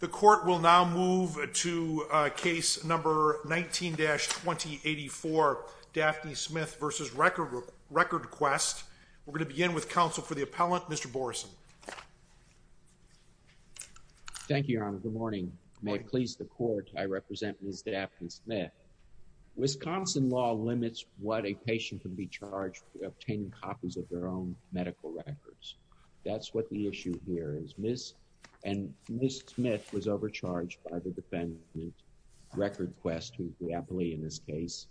The court will now move to case number 19-2084, Daphne Smith v. RecordQuest. We're going to begin with counsel for the appellant, Mr. Boreson. Thank you, Your Honor. Good morning. May it please the court, I represent Ms. Daphne Smith. Wisconsin law limits what a patient can be charged with obtaining copies of their own medical records. That's what the issue here is. Ms. Smith was overcharged by the defendant, RecordQuest, who is the appellee in this case,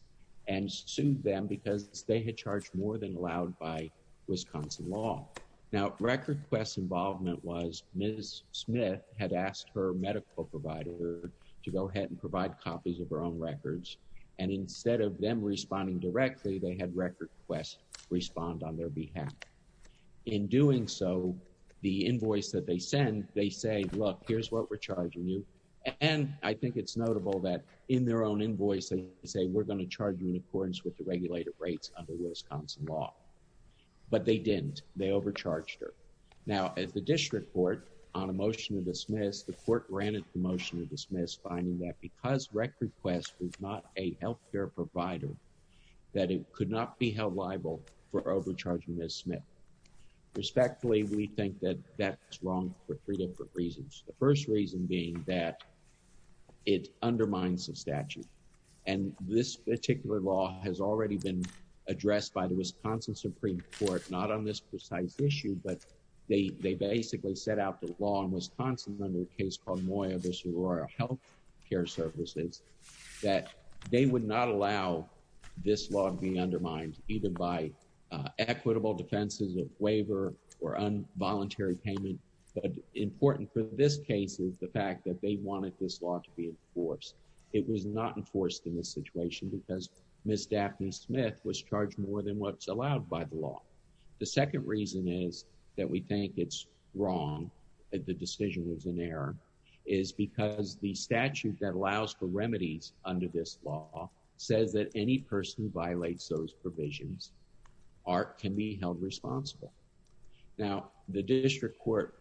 and sued them because they had charged more than allowed by Wisconsin law. Now, RecordQuest's involvement was Ms. Smith had asked her medical provider to go ahead and provide copies of her own records, and instead of them responding directly, they had RecordQuest respond on their behalf. In doing so, the invoice that they send, they say, look, here's what we're charging you, and I think it's notable that in their own invoicing, they say we're going to charge you in accordance with the regulated rates under Wisconsin law. But they didn't. They overcharged her. Now, at the district court, on a motion to dismiss, the court granted the motion to dismiss, finding that because RecordQuest was not a health care provider, that it could not be held liable for overcharging Ms. Smith. Respectfully, we think that that's wrong for three different reasons. The first reason being that it undermines the statute. And this particular law has already been addressed by the Wisconsin Supreme Court, not on this precise issue, but they basically set out the law in Wisconsin under a case called Moya v. Royal Health Care Services, that they would not allow this law to be undermined, even by equitable defenses of waiver or involuntary payment. But important for this case is the fact that they wanted this law to be enforced. It was not enforced in this situation because Ms. Daphne Smith was charged more than what's allowed by the law. The second reason is that we think it's wrong, that the decision was in error, is because the statute that allows for remedies under this law says that any person who violates those provisions can be held responsible. Now, the district court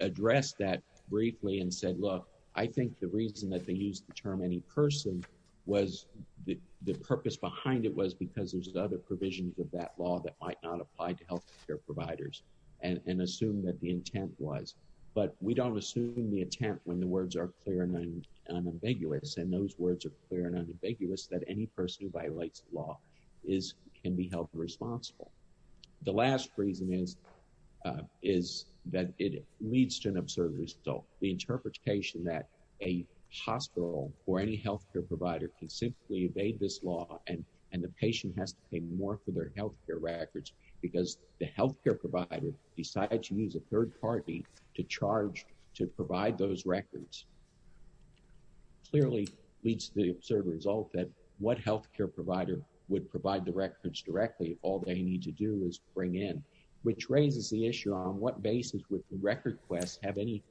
addressed that briefly and said, look, I think the reason that they used the term any person was the purpose behind it was because there's other provisions of that law that might not apply to health care providers and assume that the intent was. But we don't assume the intent when the words are clear and ambiguous. And those words are clear and ambiguous that any person who violates the law can be held responsible. The last reason is that it leads to an absurd result. The interpretation that a hospital or any health care provider can simply evade this law and the patient has to pay more for their health care records because the health care provider decides to use a third party to charge to provide those records. Clearly leads to the absurd result that what health care provider would provide the records directly if all they need to do is bring in, which raises the issue on what basis would the record quest have any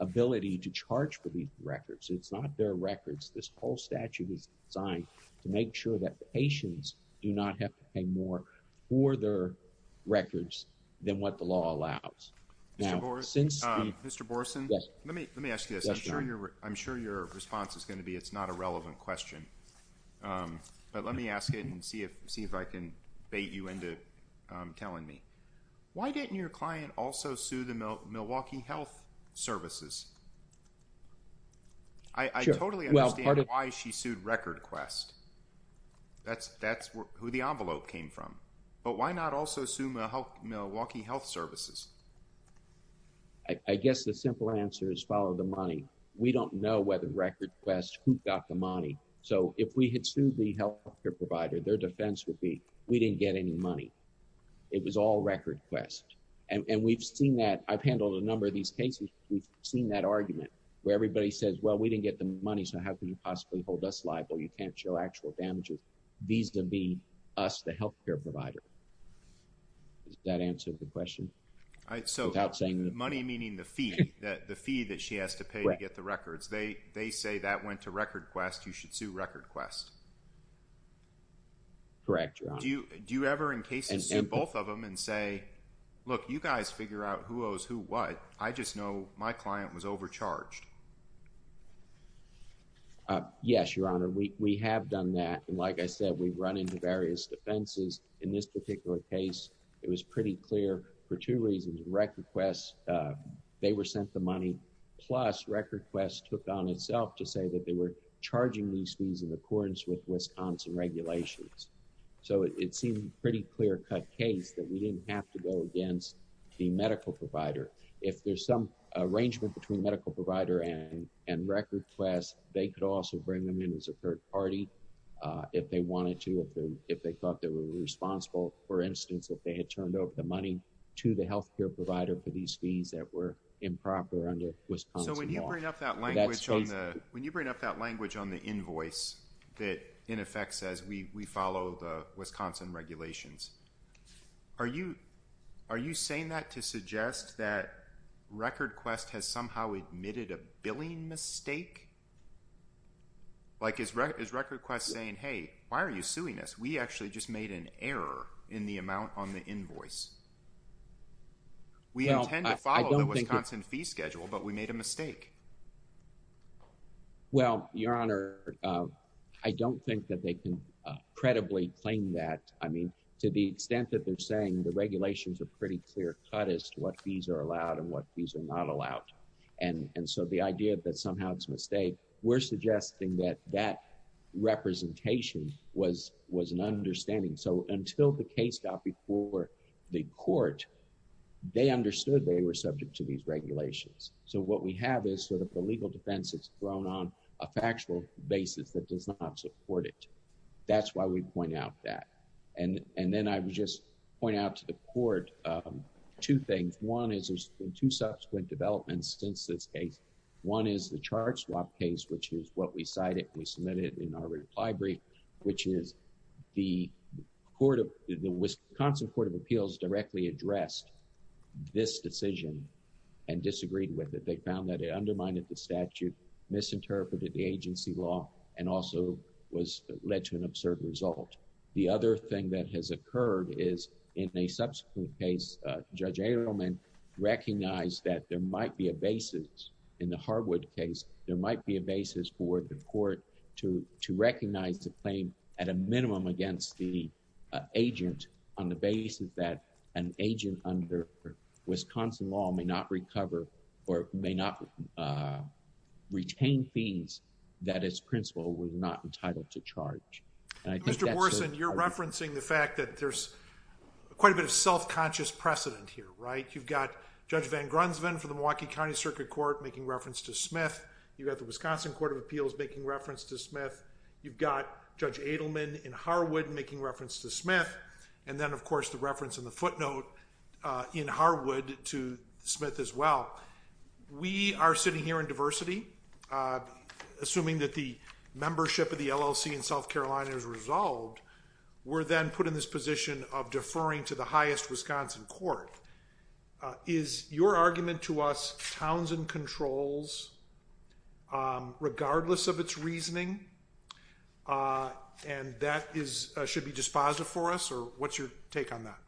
ability to charge for these records? It's not their records. This whole statute is designed to make sure that patients do not have to pay more for their records than what the law allows. Now, since Mr. Borson, let me let me ask you this. I'm sure you're I'm sure your response is going to be it's not a relevant question. But let me ask it and see if see if I can bait you into telling me. Why didn't your client also sue the Milwaukee Health Services? I totally understand why she sued Record Quest. That's that's who the envelope came from. But why not also sue Milwaukee Health Services? I guess the simple answer is follow the money. We don't know whether Record Quest got the money. So if we had sued the health care provider, their defense would be we didn't get any money. It was all Record Quest. And we've seen that I've handled a number of these cases. We've seen that argument where everybody says, well, we didn't get the money. So how can you possibly hold us liable? You can't show actual damages. These would be us, the health care provider. That answers the question. So money, meaning the fee that the fee that she has to pay to get the records, they they say that went to Record Quest. You should sue Record Quest. Correct. Do you do you ever in cases and both of them and say, look, you guys figure out who owes who what? I just know my client was overcharged. Yes, your honor. We have done that. And like I said, we've run into various defenses in this particular case. It was pretty clear for two reasons. Record Quest, they were sent the money. Plus, Record Quest took on itself to say that they were charging these fees in accordance with Wisconsin regulations. So it seemed pretty clear cut case that we didn't have to go against the medical provider. If there's some arrangement between medical provider and Record Quest, they could also bring them in as a third party if they wanted to. If they thought they were responsible, for instance, if they had turned over the money to the health care provider for these fees that were improper under Wisconsin law. So when you bring up that language on the when you bring up that language on the invoice that in effect says we follow the Wisconsin regulations. Are you are you saying that to suggest that Record Quest has somehow admitted a billing mistake? Like is is Record Quest saying, hey, why are you suing us? We actually just made an error in the amount on the invoice. We intend to follow the Wisconsin fee schedule, but we made a mistake. Well, your honor, I don't think that they can credibly claim that. I mean, to the extent that they're saying the regulations are pretty clear cut as to what fees are allowed and what fees are not allowed. And so the idea that somehow it's a mistake, we're suggesting that that representation was was an understanding. So until the case got before the court, they understood they were subject to these regulations. So what we have is sort of the legal defense is thrown on a factual basis that does not support it. That's why we point out that. And then I would just point out to the court two things. One is there's been two subsequent developments since this case. One is the charge swap case, which is what we cited. We submitted in our reply brief, which is the court of the Wisconsin Court of Appeals directly addressed this decision and disagreed with it. They found that it undermined the statute, misinterpreted the agency law and also was led to an absurd result. The other thing that has occurred is in a subsequent case, Judge Adelman recognized that there might be a basis in the hardwood case. There might be a basis for the court to to recognize the claim at a minimum against the agent on the basis that an agent under Wisconsin law may not recover or may not retain fees that its principle was not entitled to charge. Mr. Borson, you're referencing the fact that there's quite a bit of self-conscious precedent here, right? You've got Judge Van Grunsven from the Milwaukee County Circuit Court making reference to Smith. You have the Wisconsin Court of Appeals making reference to Smith. You've got Judge Adelman in Harwood making reference to Smith. And then, of course, the reference in the footnote in Harwood to Smith as well. We are sitting here in diversity. Assuming that the membership of the LLC in South Carolina is resolved, we're then put in this position of deferring to the highest Wisconsin court. Is your argument to us Townsend controls regardless of its reasoning? And that should be dispositive for us? Or what's your take on that?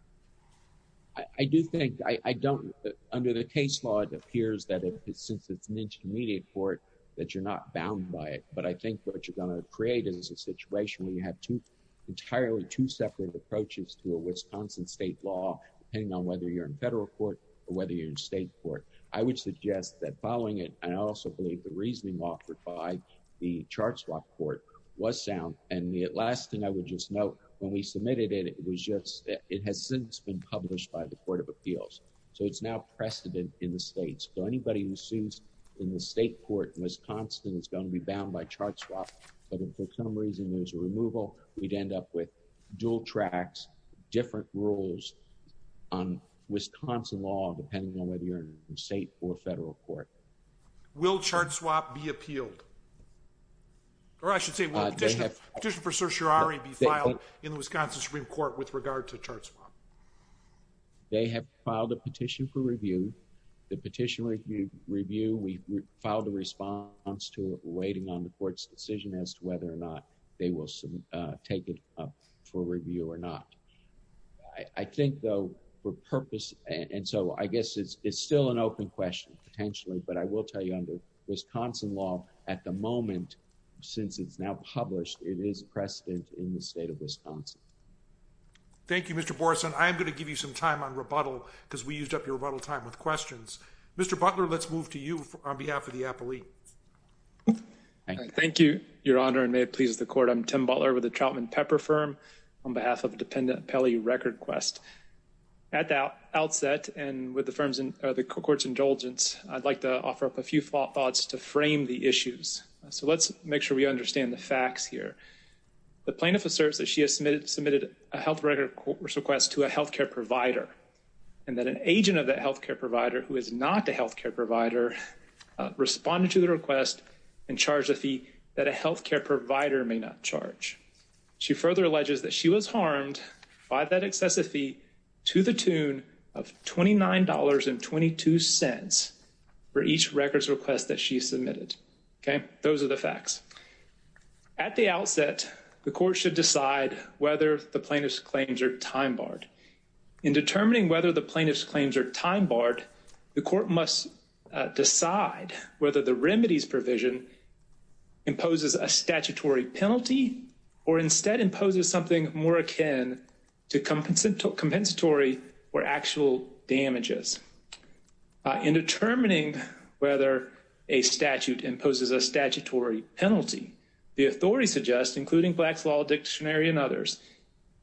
I do think I don't under the case law. It appears that since it's an intermediate court that you're not bound by it. But I think what you're going to create is a situation where you have two entirely two separate approaches to a Wisconsin state law, depending on whether you're in federal court or whether you're in state court. I would suggest that following it. And I also believe the reasoning offered by the chart swap court was sound. And the last thing I would just note when we submitted it, it was just it has since been published by the Court of Appeals. So it's now precedent in the states. So anybody who sees in the state court in Wisconsin is going to be bound by chart swap. But for some reason, there's a removal. We'd end up with dual tracks, different rules on Wisconsin law, depending on whether you're in state or federal court. Will chart swap be appealed? Or I should say petition for certiorari be filed in Wisconsin Supreme Court with regard to charts. They have filed a petition for review. The petition review, we filed a response to it waiting on the court's decision as to whether or not they will take it up for review or not. I think, though, for purpose. And so I guess it's still an open question potentially, but I will tell you under Wisconsin law at the moment, since it's now published, it is precedent in the state of Wisconsin. Thank you, Mr. Borson. I'm going to give you some time on rebuttal because we used up your time with questions. Mr. Butler, let's move to you on behalf of the appellee. Thank you, Your Honor, and may it please the court. I'm Tim Butler with the Trautman Pepper firm on behalf of the dependent Pelley Record Quest. At the outset and with the firm's and the court's indulgence, I'd like to offer up a few thoughts to frame the issues. So let's make sure we understand the facts here. The plaintiff asserts that she has submitted a health record request to a health care provider and that an agent of that health care provider who is not a health care provider responded to the request and charged a fee that a health care provider may not charge. She further alleges that she was harmed by that excessive fee to the tune of twenty nine dollars and twenty two cents for each records request that she submitted. OK, those are the facts. At the outset, the court should decide whether the plaintiff's claims are time barred. In determining whether the plaintiff's claims are time barred, the court must decide whether the remedies provision imposes a statutory penalty or instead imposes something more akin to compensatory or actual damages. In determining whether a statute imposes a statutory penalty, the authority suggests, including Black's Law Dictionary and others,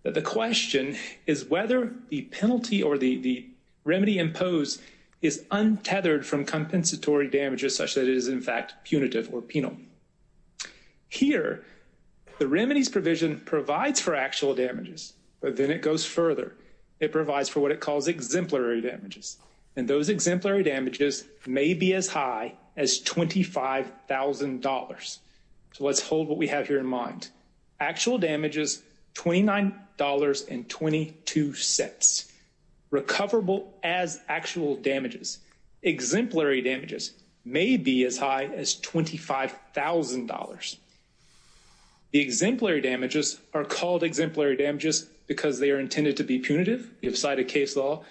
that the question is whether the penalty or the remedy imposed is untethered from compensatory damages such that it is in fact punitive or penal. Here, the remedies provision provides for actual damages, but then it goes further. It provides for what it calls exemplary damages, and those exemplary damages may be as high as twenty five thousand dollars. So let's hold what we have here in mind. Actual damages, twenty nine dollars and twenty two cents recoverable as actual damages. Exemplary damages may be as high as twenty five thousand dollars. The exemplary damages are called exemplary damages because they are intended to be punitive. You have cited case law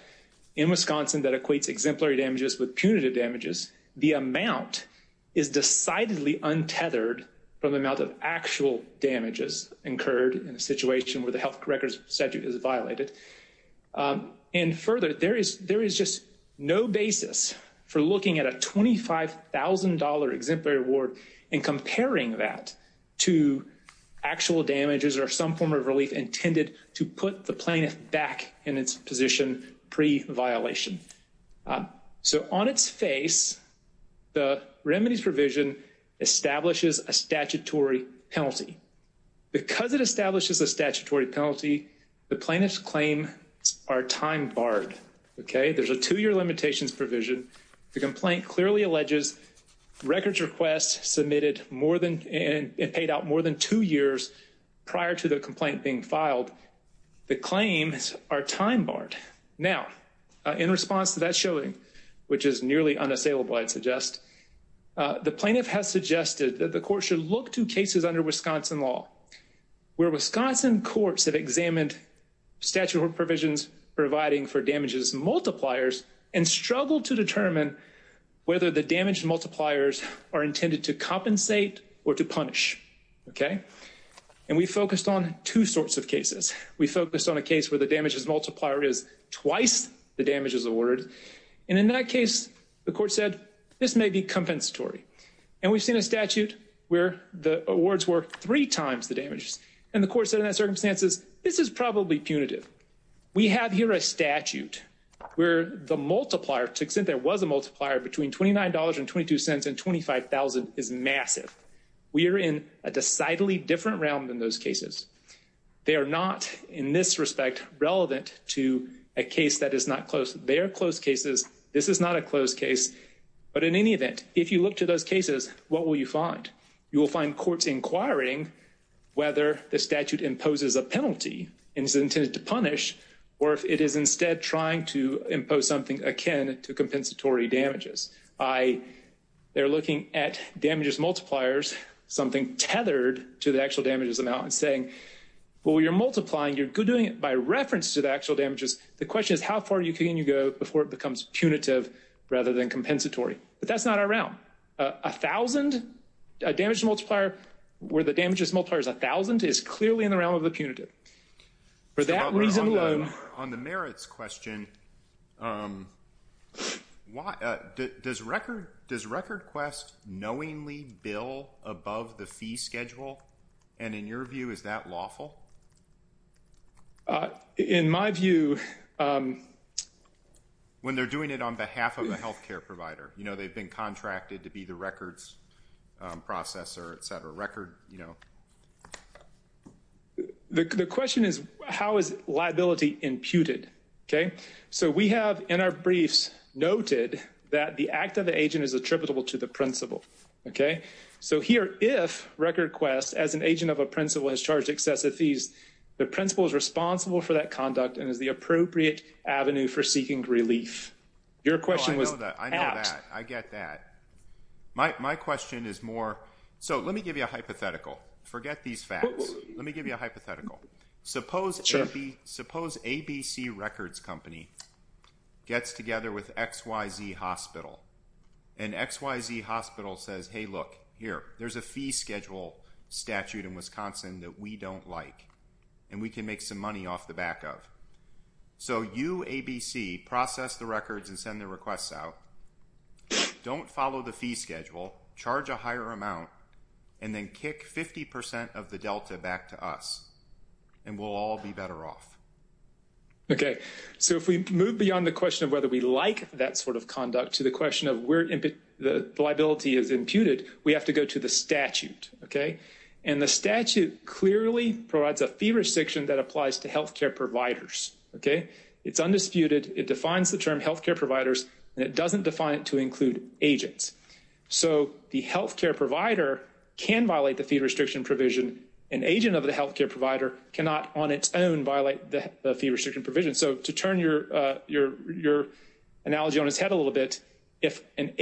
in Wisconsin that equates exemplary damages with punitive damages. The amount is decidedly untethered from the amount of actual damages incurred in a situation where the health records statute is violated. And further, there is there is just no basis for looking at a twenty five thousand dollar exemplary award and comparing that to actual damages or some form of relief intended to put the plaintiff back in its position pre-violation. So on its face, the remedies provision establishes a statutory penalty. Because it establishes a statutory penalty, the plaintiff's claim are time barred. OK, there's a two year limitations provision. The complaint clearly alleges records requests submitted more than and paid out more than two years prior to the complaint being filed. The claims are time barred now in response to that showing, which is nearly unassailable, I'd suggest. The plaintiff has suggested that the court should look to cases under Wisconsin law where Wisconsin courts have examined statute of provisions providing for damages multipliers and struggle to determine whether the damage multipliers are intended to compensate or to punish. OK, and we focused on two sorts of cases. We focused on a case where the damages multiplier is twice the damages awarded. And in that case, the court said this may be compensatory. And we've seen a statute where the awards were three times the damages. And the court said in that circumstances, this is probably punitive. We have here a statute where the multiplier, to the extent there was a multiplier between twenty nine dollars and twenty two cents and twenty five thousand is massive. We are in a decidedly different realm than those cases. They are not in this respect relevant to a case that is not close. They are closed cases. This is not a closed case. But in any event, if you look to those cases, what will you find? You will find courts inquiring whether the statute imposes a penalty and is intended to punish or if it is instead trying to impose something akin to compensatory damages. They're looking at damages multipliers, something tethered to the actual damages amount and saying, well, you're multiplying, you're doing it by reference to the actual damages. The question is, how far can you go before it becomes punitive rather than compensatory? But that's not our realm. A thousand damage multiplier where the damages multiplier is a thousand is clearly in the realm of the punitive. For that reason alone. On the merits question, does RecordQuest knowingly bill above the fee schedule? And in your view, is that lawful? In my view. When they're doing it on behalf of a health care provider, you know, they've been contracted to be the records processor, et cetera, record, you know. The question is, how is liability imputed? OK, so we have in our briefs noted that the act of the agent is attributable to the principal. OK, so here, if RecordQuest as an agent of a principal has charged excessive fees, the principal is responsible for that conduct and is the appropriate avenue for seeking relief. Your question was that I know that I get that. My question is more, so let me give you a hypothetical. Forget these facts. Let me give you a hypothetical. Suppose ABC Records Company gets together with XYZ Hospital. And XYZ Hospital says, hey, look, here, there's a fee schedule statute in Wisconsin that we don't like. And we can make some money off the back of. So you, ABC, process the records and send the requests out. Don't follow the fee schedule. Charge a higher amount. And then kick 50 percent of the delta back to us. And we'll all be better off. OK, so if we move beyond the question of whether we like that sort of conduct to the question of where the liability is imputed, we have to go to the statute. OK, and the statute clearly provides a fee restriction that applies to health care providers. OK, it's undisputed. It defines the term health care providers and it doesn't define it to include agents. So the health care provider can violate the fee restriction provision. An agent of the health care provider cannot on its own violate the fee restriction provision. So to turn your analogy on its head a little bit, if an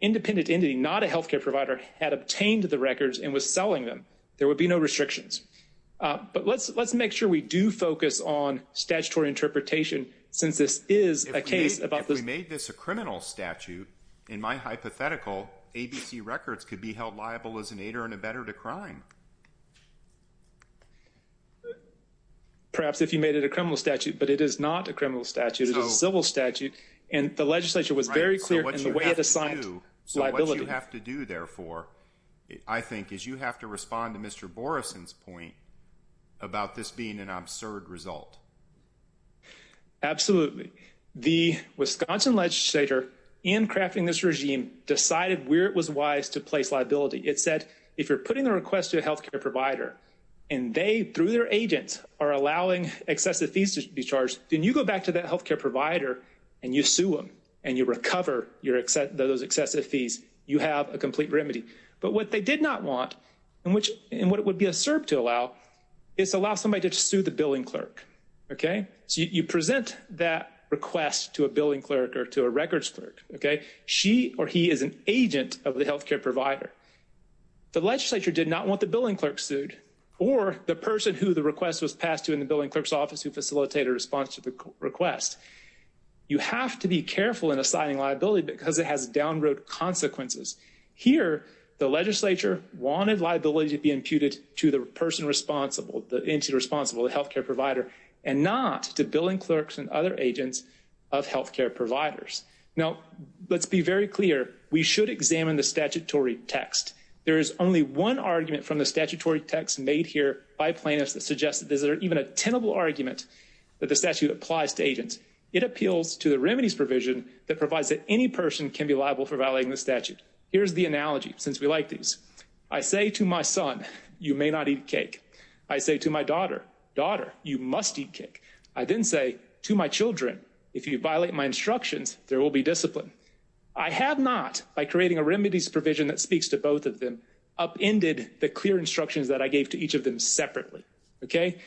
independent entity, not a health care provider, had obtained the records and was selling them, there would be no restrictions. But let's make sure we do focus on statutory interpretation since this is a case about this. If we made this a criminal statute, in my hypothetical, ABC records could be held liable as an aider in a better to crime. Perhaps if you made it a criminal statute, but it is not a criminal statute. It is a civil statute. And the legislature was very clear in the way it assigned liability. So what you have to do, therefore, I think, is you have to respond to Mr. Boreson's point about this being an absurd result. Absolutely. The Wisconsin legislator in crafting this regime decided where it was wise to place liability. It said if you're putting a request to a health care provider and they, through their agents, are allowing excessive fees to be charged, then you go back to that health care provider and you sue them and you recover those excessive fees. You have a complete remedy. But what they did not want and what it would be absurd to allow is to allow somebody to sue the billing clerk. Okay? So you present that request to a billing clerk or to a records clerk. Okay? She or he is an agent of the health care provider. The legislature did not want the billing clerk sued or the person who the request was passed to in the billing clerk's office who facilitated a response to the request. You have to be careful in assigning liability because it has downroad consequences. Here, the legislature wanted liability to be imputed to the person responsible, the entity responsible, the health care provider, and not to billing clerks and other agents of health care providers. Now, let's be very clear. We should examine the statutory text. There is only one argument from the statutory text made here by plaintiffs that suggests that there's even a tenable argument that the statute applies to agents. It appeals to the remedies provision that provides that any person can be liable for violating the statute. Here's the analogy, since we like these. I say to my son, you may not eat cake. I say to my daughter, daughter, you must eat cake. I then say to my children, if you violate my instructions, there will be discipline. I have not, by creating a remedies provision that speaks to both of them, upended the clear instructions that I gave to each of them separately. Okay?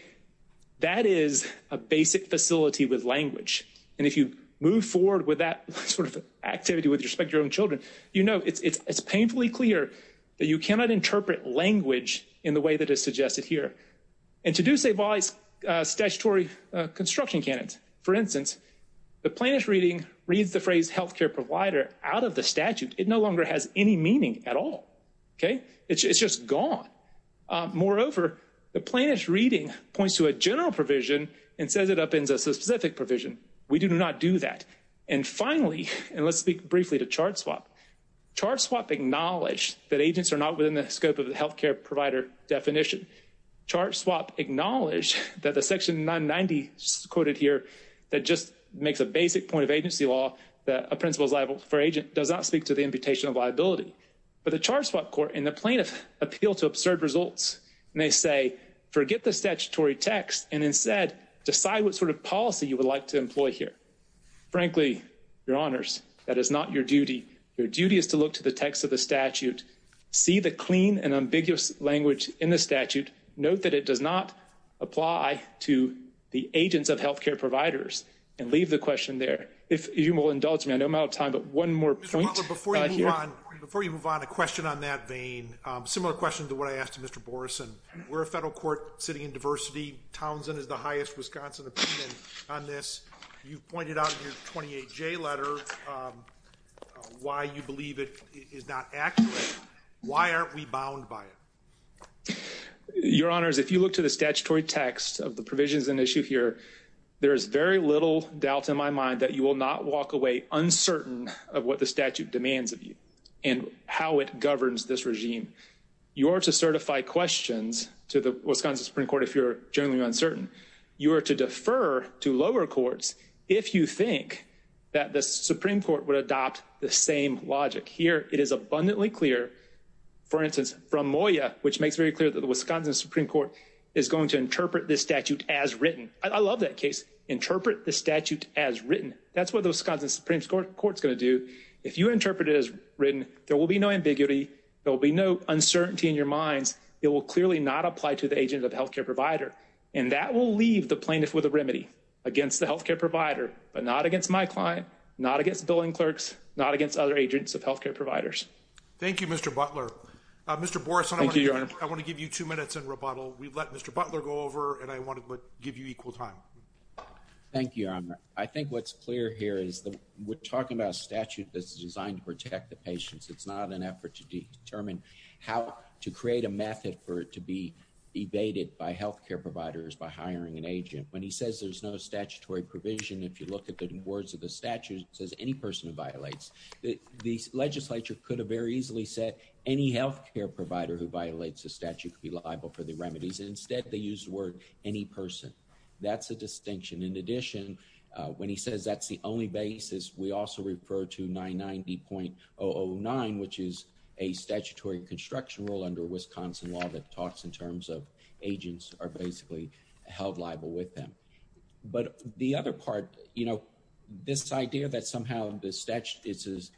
That is a basic facility with language. And if you move forward with that sort of activity with respect to your own children, you know, it's painfully clear that you cannot interpret language in the way that is suggested here. And to do so by statutory construction canons. For instance, the plaintiff's reading reads the phrase healthcare provider out of the statute. It no longer has any meaning at all. Okay? It's just gone. Moreover, the plaintiff's reading points to a general provision and says it upends a specific provision. We do not do that. And finally, and let's speak briefly to chart swap. Chart swap acknowledged that agents are not within the scope of the healthcare provider definition. Chart swap acknowledged that the section 990 quoted here that just makes a basic point of agency law that a principal is liable for agent does not speak to the imputation of liability. But the chart swap court and the plaintiff appeal to absurd results. And they say, forget the statutory text and instead decide what sort of policy you would like to employ here. Frankly, your honors, that is not your duty. Your duty is to look to the text of the statute. See the clean and ambiguous language in the statute. Note that it does not apply to the agents of healthcare providers. And leave the question there. If you will indulge me, I know I'm out of time, but one more point. Mr. Butler, before you move on, a question on that vein. Similar question to what I asked to Mr. Borgeson. We're a federal court sitting in diversity. Townsend is the highest Wisconsin opinion on this. You've pointed out in your 28J letter why you believe it is not accurate. Why aren't we bound by it? Your honors, if you look to the statutory text of the provisions in issue here, there is very little doubt in my mind that you will not walk away uncertain of what the statute demands of you and how it governs this regime. You are to certify questions to the Wisconsin Supreme Court if you're generally uncertain. You are to defer to lower courts if you think that the Supreme Court would adopt the same logic. Here it is abundantly clear, for instance, from Moya, which makes very clear that the Wisconsin Supreme Court is going to interpret this statute as written. I love that case. Interpret the statute as written. That's what the Wisconsin Supreme Court is going to do. If you interpret it as written, there will be no ambiguity. There will be no uncertainty in your minds. It will clearly not apply to the agent of healthcare provider. And that will leave the plaintiff with a remedy against the healthcare provider, but not against my client, not against billing clerks, not against other agents of healthcare providers. Thank you, Mr. Butler. Mr. Borison, I want to give you two minutes in rebuttal. We've let Mr. Butler go over, and I want to give you equal time. Thank you, your honor. I think what's clear here is that we're talking about a statute that's designed to protect the patients. It's not an effort to determine how to create a method for it to be evaded by healthcare providers by hiring an agent. When he says there's no statutory provision, if you look at the words of the statute, it says any person who violates. The legislature could have very easily said any healthcare provider who violates the statute could be liable for the remedies. Instead, they used the word any person. That's a distinction. In addition, when he says that's the only basis, we also refer to 990.009, which is a statutory construction rule under Wisconsin law that talks in terms of agents are basically held liable with them. But the other part, you know, this idea that somehow this is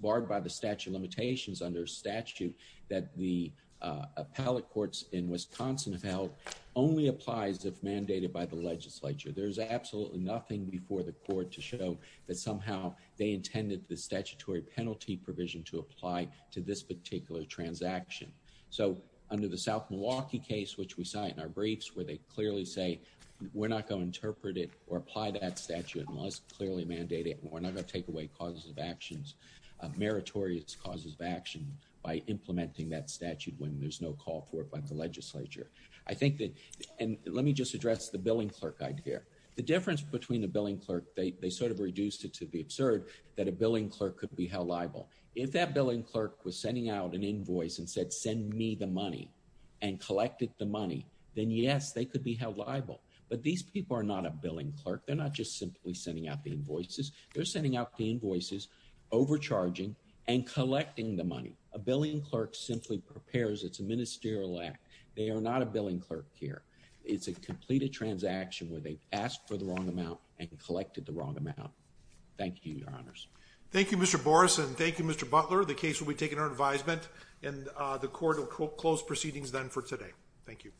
barred by the statute limitations under statute that the appellate courts in Wisconsin have held only applies if mandated by the legislature. There's absolutely nothing before the court to show that somehow they intended the statutory penalty provision to apply to this particular transaction. So, under the South Milwaukee case, which we saw in our briefs where they clearly say we're not going to interpret it or apply that statute unless clearly mandated. We're not going to take away causes of actions, meritorious causes of action by implementing that statute when there's no call for it by the legislature. I think that and let me just address the billing clerk idea. The difference between the billing clerk, they sort of reduced it to the absurd that a billing clerk could be held liable. If that billing clerk was sending out an invoice and said, send me the money and collected the money, then yes, they could be held liable. But these people are not a billing clerk. They're not just simply sending out the invoices. They're sending out the invoices, overcharging and collecting the money. A billing clerk simply prepares. It's a ministerial act. They are not a billing clerk here. It's a completed transaction where they asked for the wrong amount and collected the wrong amount. Thank you, your honors. Thank you, Mr. Boris and thank you, Mr. Butler. The case will be taken under advisement and the court will close proceedings then for today. Thank you.